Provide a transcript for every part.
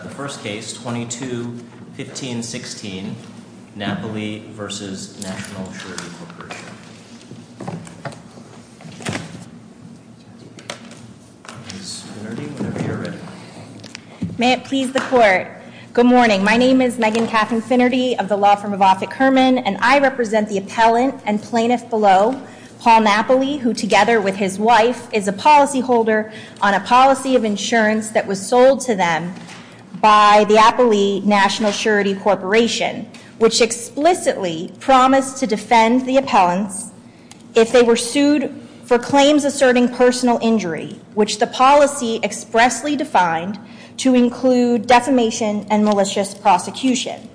First Case, 22-15-16, Napoli v. National Assurance Corporation Ms. Finnerty, whenever you're ready. May it please the Court. Good morning. My name is Megan Catherine Finnerty of the law firm of Offutt Kerman, and I represent the appellant and plaintiff below, Paul Napoli, who together with his wife, is a policyholder on a policy of insurance that was sold to them. By the Napoli National Assurity Corporation, which explicitly promised to defend the appellants if they were sued for claims asserting personal injury, which the policy expressly defined to include defamation and malicious prosecution.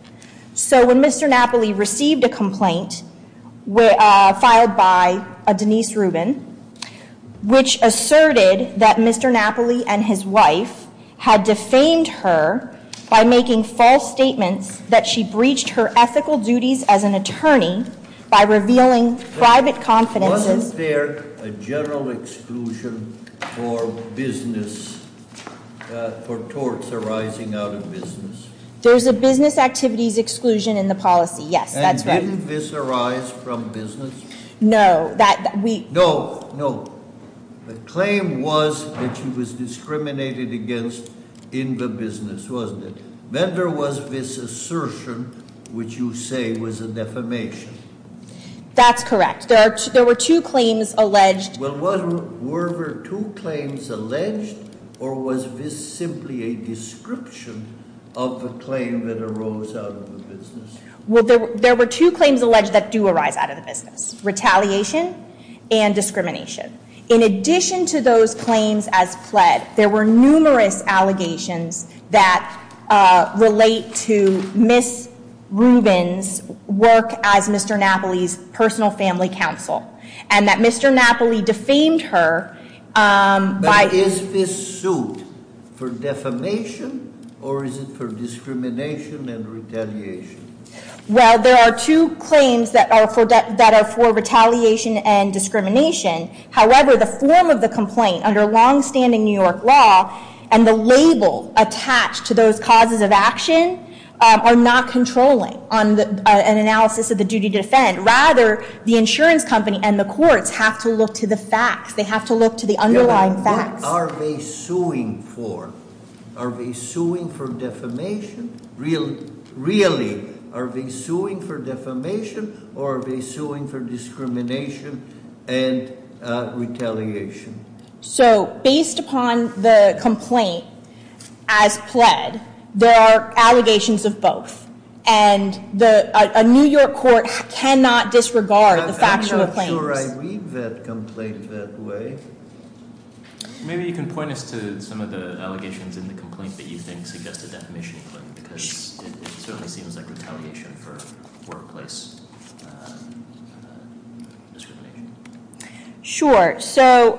So when Mr. Napoli received a complaint filed by Denise Rubin, which asserted that Mr. Napoli and his wife had defamed her by making false statements that she breached her ethical duties as an attorney by revealing private confidences. Wasn't there a general exclusion for business, for torts arising out of business? There's a business activities exclusion in the policy, yes, that's right. And didn't this arise from business? No, that we- No, no. The claim was that she was discriminated against in the business, wasn't it? Then there was this assertion, which you say was a defamation. That's correct. There were two claims alleged. Well, were there two claims alleged, or was this simply a description of the claim that arose out of the business? Well, there were two claims alleged that do arise out of the business, retaliation and discrimination. In addition to those claims as pled, there were numerous allegations that relate to Ms. Rubin's work as Mr. Napoli's personal family counsel, and that Mr. Napoli defamed her by- But is this suit for defamation, or is it for discrimination and retaliation? Well, there are two claims that are for retaliation and discrimination. However, the form of the complaint under longstanding New York law and the label attached to those causes of action are not controlling an analysis of the duty to defend. Rather, the insurance company and the courts have to look to the facts. They have to look to the underlying facts. Are they suing for defamation? Really, are they suing for defamation, or are they suing for discrimination and retaliation? So, based upon the complaint as pled, there are allegations of both, and a New York court cannot disregard the factual claims. I'm not sure I read that complaint that way. Maybe you can point us to some of the allegations in the complaint that you think suggested defamation, because it certainly seems like retaliation for workplace discrimination. Sure. So,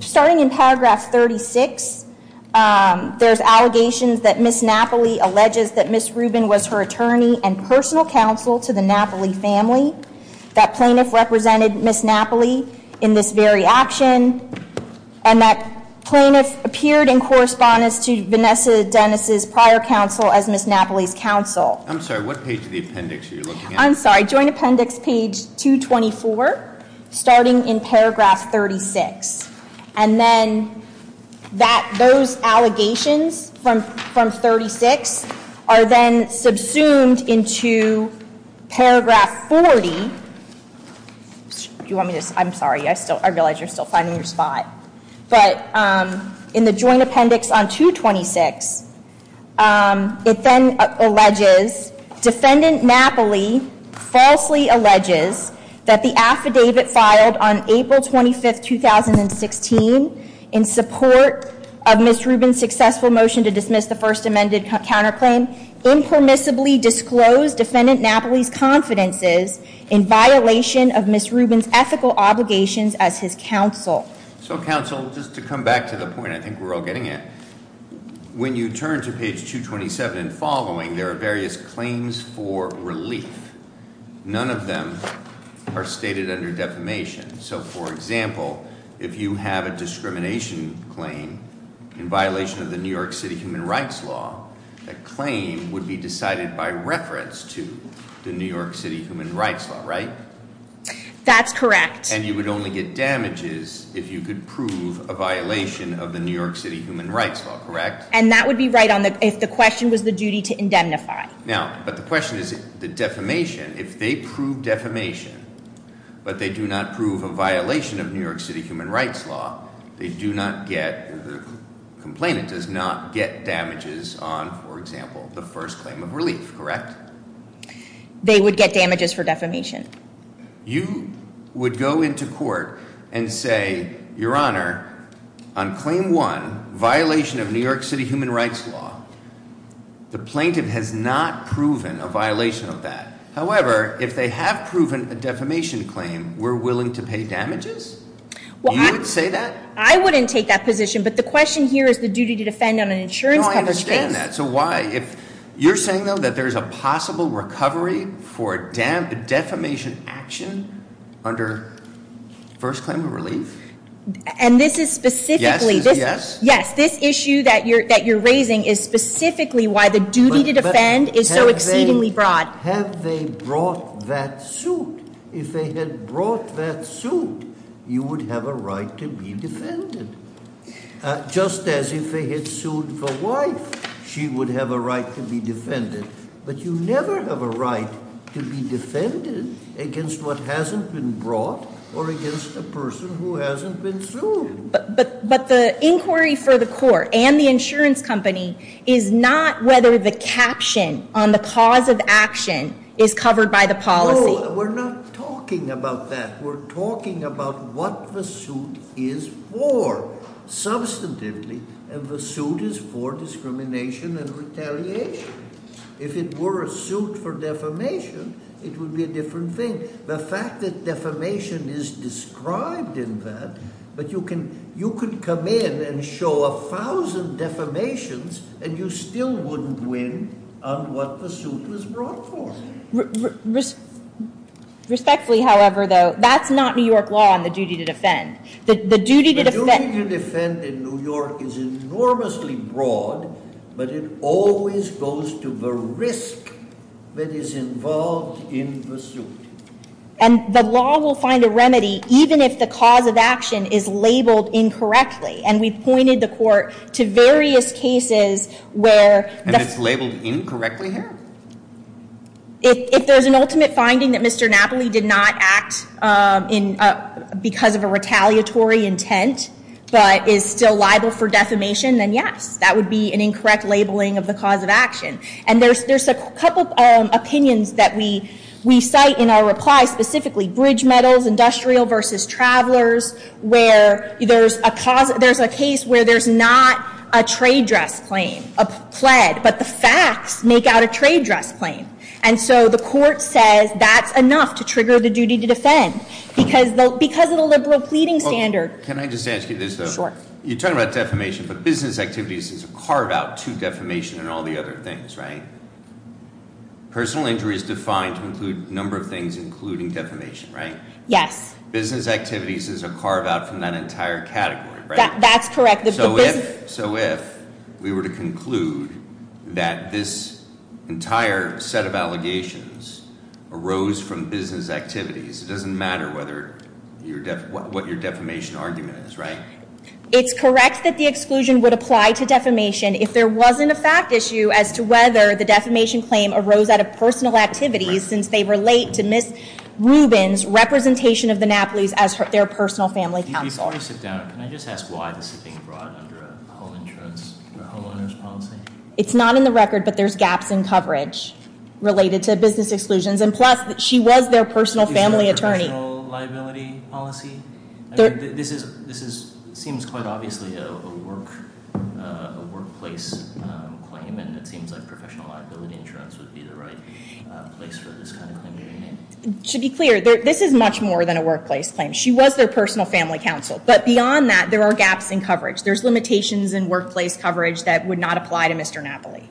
starting in paragraph 36, there's allegations that Ms. Napoli alleges that Ms. Rubin was her attorney and personal counsel to the Napoli family. That plaintiff represented Ms. Napoli in this very action, and that plaintiff appeared in correspondence to Vanessa Dennis' prior counsel as Ms. Napoli's counsel. I'm sorry, what page of the appendix are you looking at? I'm sorry, joint appendix page 224, starting in paragraph 36. And then, those allegations from 36 are then subsumed into paragraph 40. Do you want me to, I'm sorry, I realize you're still finding your spot. But, in the joint appendix on 226, it then alleges, defendant Napoli falsely alleges that the affidavit filed on April 25, 2016, in support of Ms. Rubin's successful motion to dismiss the first amended counterclaim, impermissibly disclosed defendant Napoli's confidences in violation of Ms. Rubin's ethical obligations as his counsel. So, counsel, just to come back to the point, I think we're all getting it. When you turn to page 227 and following, there are various claims for relief. None of them are stated under defamation. So, for example, if you have a discrimination claim in violation of the New York City Human Rights Law, that claim would be decided by reference to the New York City Human Rights Law, right? That's correct. And you would only get damages if you could prove a violation of the New York City Human Rights Law, correct? And that would be right if the question was the duty to indemnify. Now, but the question is, the defamation, if they prove defamation, but they do not prove a violation of New York City Human Rights Law, they do not get, the complainant does not get damages on, for example, the first claim of relief, correct? They would get damages for defamation. You would go into court and say, your honor, on claim one, violation of New York City Human Rights Law. The plaintiff has not proven a violation of that. However, if they have proven a defamation claim, we're willing to pay damages? You would say that? I wouldn't take that position, but the question here is the duty to defend on an insurance company's case. No, I understand that. So why? You're saying, though, that there's a possible recovery for defamation action under first claim of relief? And this is specifically- Yes? Yes, this issue that you're raising is specifically why the duty to defend is so exceedingly broad. Have they brought that suit? If they had brought that suit, you would have a right to be defended. Just as if they had sued for wife, she would have a right to be defended. But you never have a right to be defended against what hasn't been brought or against a person who hasn't been sued. But the inquiry for the court and the insurance company is not whether the caption on the cause of action is covered by the policy. No, we're not talking about that. We're talking about what the suit is for, substantively. And the suit is for discrimination and retaliation. If it were a suit for defamation, it would be a different thing. The fact that defamation is described in that, but you could come in and show a thousand defamations, and you still wouldn't win on what the suit was brought for. Respectfully, however, though, that's not New York law on the duty to defend. The duty to defend in New York is enormously broad, but it always goes to the risk that is involved in the suit. And the law will find a remedy even if the cause of action is labeled incorrectly. And we've pointed the court to various cases where... If there's an ultimate finding that Mr. Napoli did not act because of a retaliatory intent, but is still liable for defamation, then yes, that would be an incorrect labeling of the cause of action. And there's a couple opinions that we cite in our reply, specifically bridge metals, industrial versus travelers, where there's a case where there's not a trade dress claim, a pled. But the facts make out a trade dress claim. And so the court says that's enough to trigger the duty to defend, because of the liberal pleading standard. Can I just ask you this, though? Sure. You're talking about defamation, but business activities carve out to defamation and all the other things, right? Personal injury is defined to include a number of things, including defamation, right? Yes. Business activities is a carve out from that entire category, right? That's correct. So if we were to conclude that this entire set of allegations arose from business activities, it doesn't matter what your defamation argument is, right? It's correct that the exclusion would apply to defamation if there wasn't a fact issue as to whether the defamation claim arose out of personal activities, since they relate to Ms. Rubin's representation of the Napoles as their personal family counsel. Before you sit down, can I just ask why this is being brought under a home insurance, a homeowner's policy? It's not in the record, but there's gaps in coverage related to business exclusions, and plus she was their personal family attorney. Is this a professional liability policy? This seems quite obviously a workplace claim, and it seems like professional liability insurance would be the right place for this kind of claim to be made. To be clear, this is much more than a workplace claim. She was their personal family counsel, but beyond that, there are gaps in coverage. There's limitations in workplace coverage that would not apply to Mr. Napoli.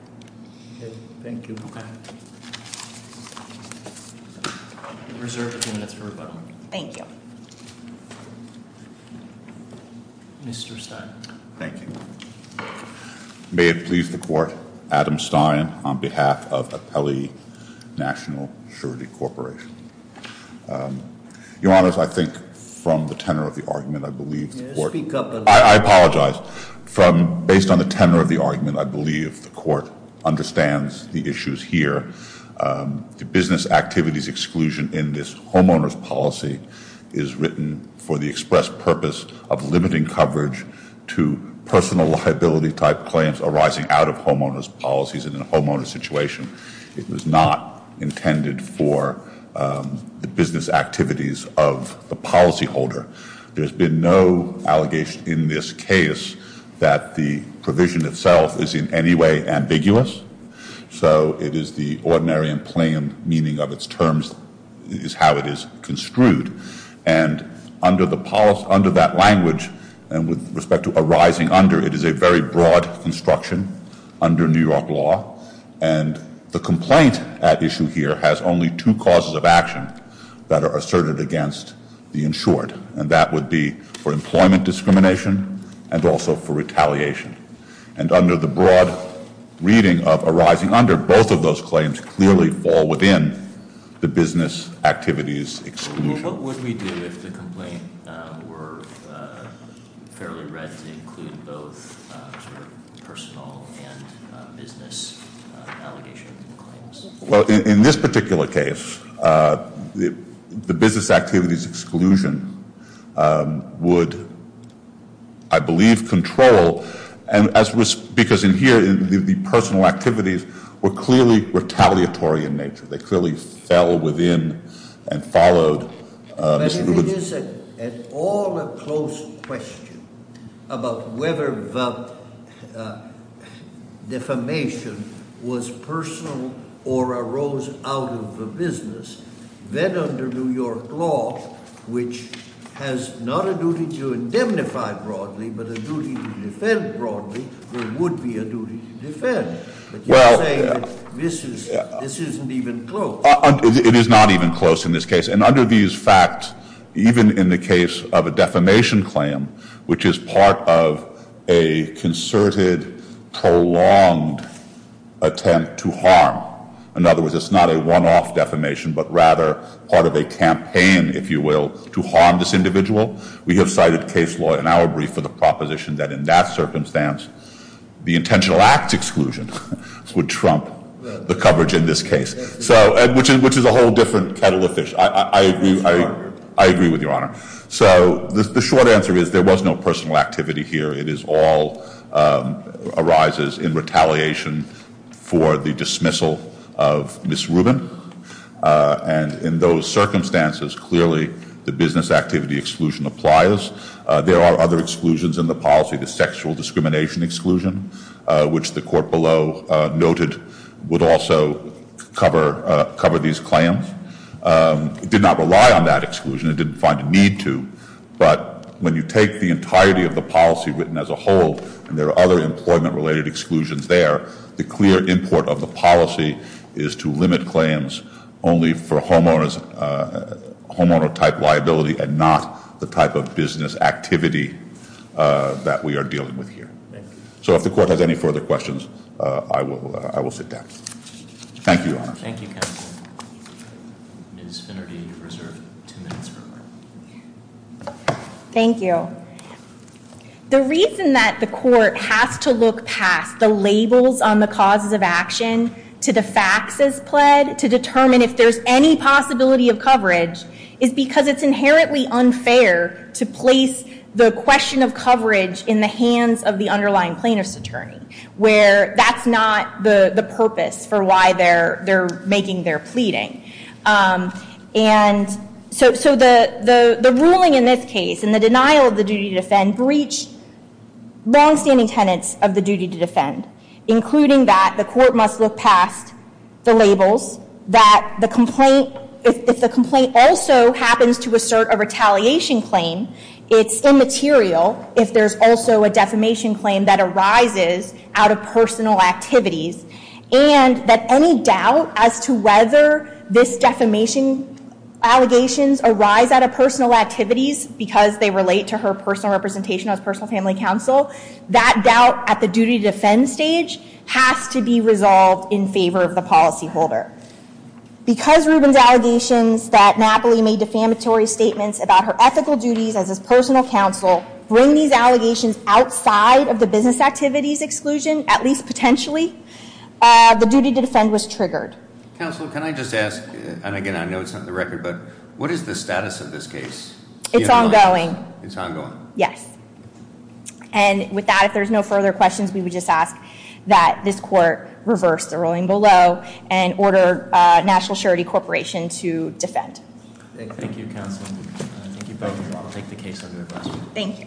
Thank you. Reserve a few minutes for rebuttal. Thank you. Mr. Stein. Thank you. May it please the court, Adam Stein on behalf of Apelli National Security Corporation. Your Honor, I think from the tenor of the argument, I believe the court Speak up a little. I apologize. Based on the tenor of the argument, I believe the court understands the issues here. The business activities exclusion in this homeowner's policy is written for the express purpose of limiting coverage to personal liability type claims arising out of homeowner's policies in a homeowner's situation. It was not intended for the business activities of the policyholder. There's been no allegation in this case that the provision itself is in any way ambiguous, so it is the ordinary and plain meaning of its terms is how it is construed. And under that language and with respect to arising under, it is a very broad construction under New York law, and the complaint at issue here has only two causes of action that are asserted against the insured, and that would be for employment discrimination and also for retaliation. And under the broad reading of arising under, both of those claims clearly fall within the business activities exclusion. What would we do if the complaint were fairly read to include both personal and business allegations? Well, in this particular case, the business activities exclusion would, I believe, control, because in here the personal activities were clearly retaliatory in nature. They clearly fell within and followed Mr. Ruben's- But if it is at all a close question about whether the defamation was personal or arose out of the business, then under New York law, which has not a duty to indemnify broadly, but a duty to defend broadly, there would be a duty to defend. But you're saying that this isn't even close. It is not even close in this case. And under these facts, even in the case of a defamation claim, which is part of a concerted, prolonged attempt to harm, in other words, it's not a one-off defamation, but rather part of a campaign, if you will, to harm this individual, we have cited case law in our brief for the proposition that in that circumstance, the intentional acts exclusion would trump the coverage in this case, which is a whole different kettle of fish. I agree with Your Honor. So the short answer is there was no personal activity here. It all arises in retaliation for the dismissal of Ms. Ruben. And in those circumstances, clearly the business activity exclusion applies. There are other exclusions in the policy, the sexual discrimination exclusion, which the court below noted would also cover these claims. It did not rely on that exclusion. It didn't find a need to. But when you take the entirety of the policy written as a whole, and there are other employment-related exclusions there, the clear import of the policy is to limit claims only for homeowner-type liability and not the type of business activity that we are dealing with here. So if the court has any further questions, I will sit down. Thank you, Your Honor. Thank you, counsel. Ms. Finnerty, you're reserved two minutes for a question. Thank you. The reason that the court has to look past the labels on the causes of action to the facts as pled to determine if there's any possibility of coverage is because it's inherently unfair to place the question of coverage in the hands of the underlying plaintiff's attorney, where that's not the purpose for why they're making their pleading. And so the ruling in this case and the denial of the duty to defend breached longstanding tenets of the duty to defend, including that the court must look past the labels, that if the complaint also happens to assert a retaliation claim, it's immaterial if there's also a defamation claim that arises out of personal activities, and that any doubt as to whether this defamation allegations arise out of personal activities because they relate to her personal representation as personal family counsel, that doubt at the duty to defend stage has to be resolved in favor of the policyholder. Because Ruben's allegations that Napoli made defamatory statements about her ethical duties as his personal counsel bring these allegations outside of the business activities exclusion, at least potentially, the duty to defend was triggered. Counsel, can I just ask, and again, I know it's not in the record, but what is the status of this case? It's ongoing. It's ongoing? Yes. And with that, if there's no further questions, we would just ask that this court reverse the ruling below and order National Surety Corporation to defend. Thank you, counsel. Thank you both. I'll take the case under the cross. Thank you.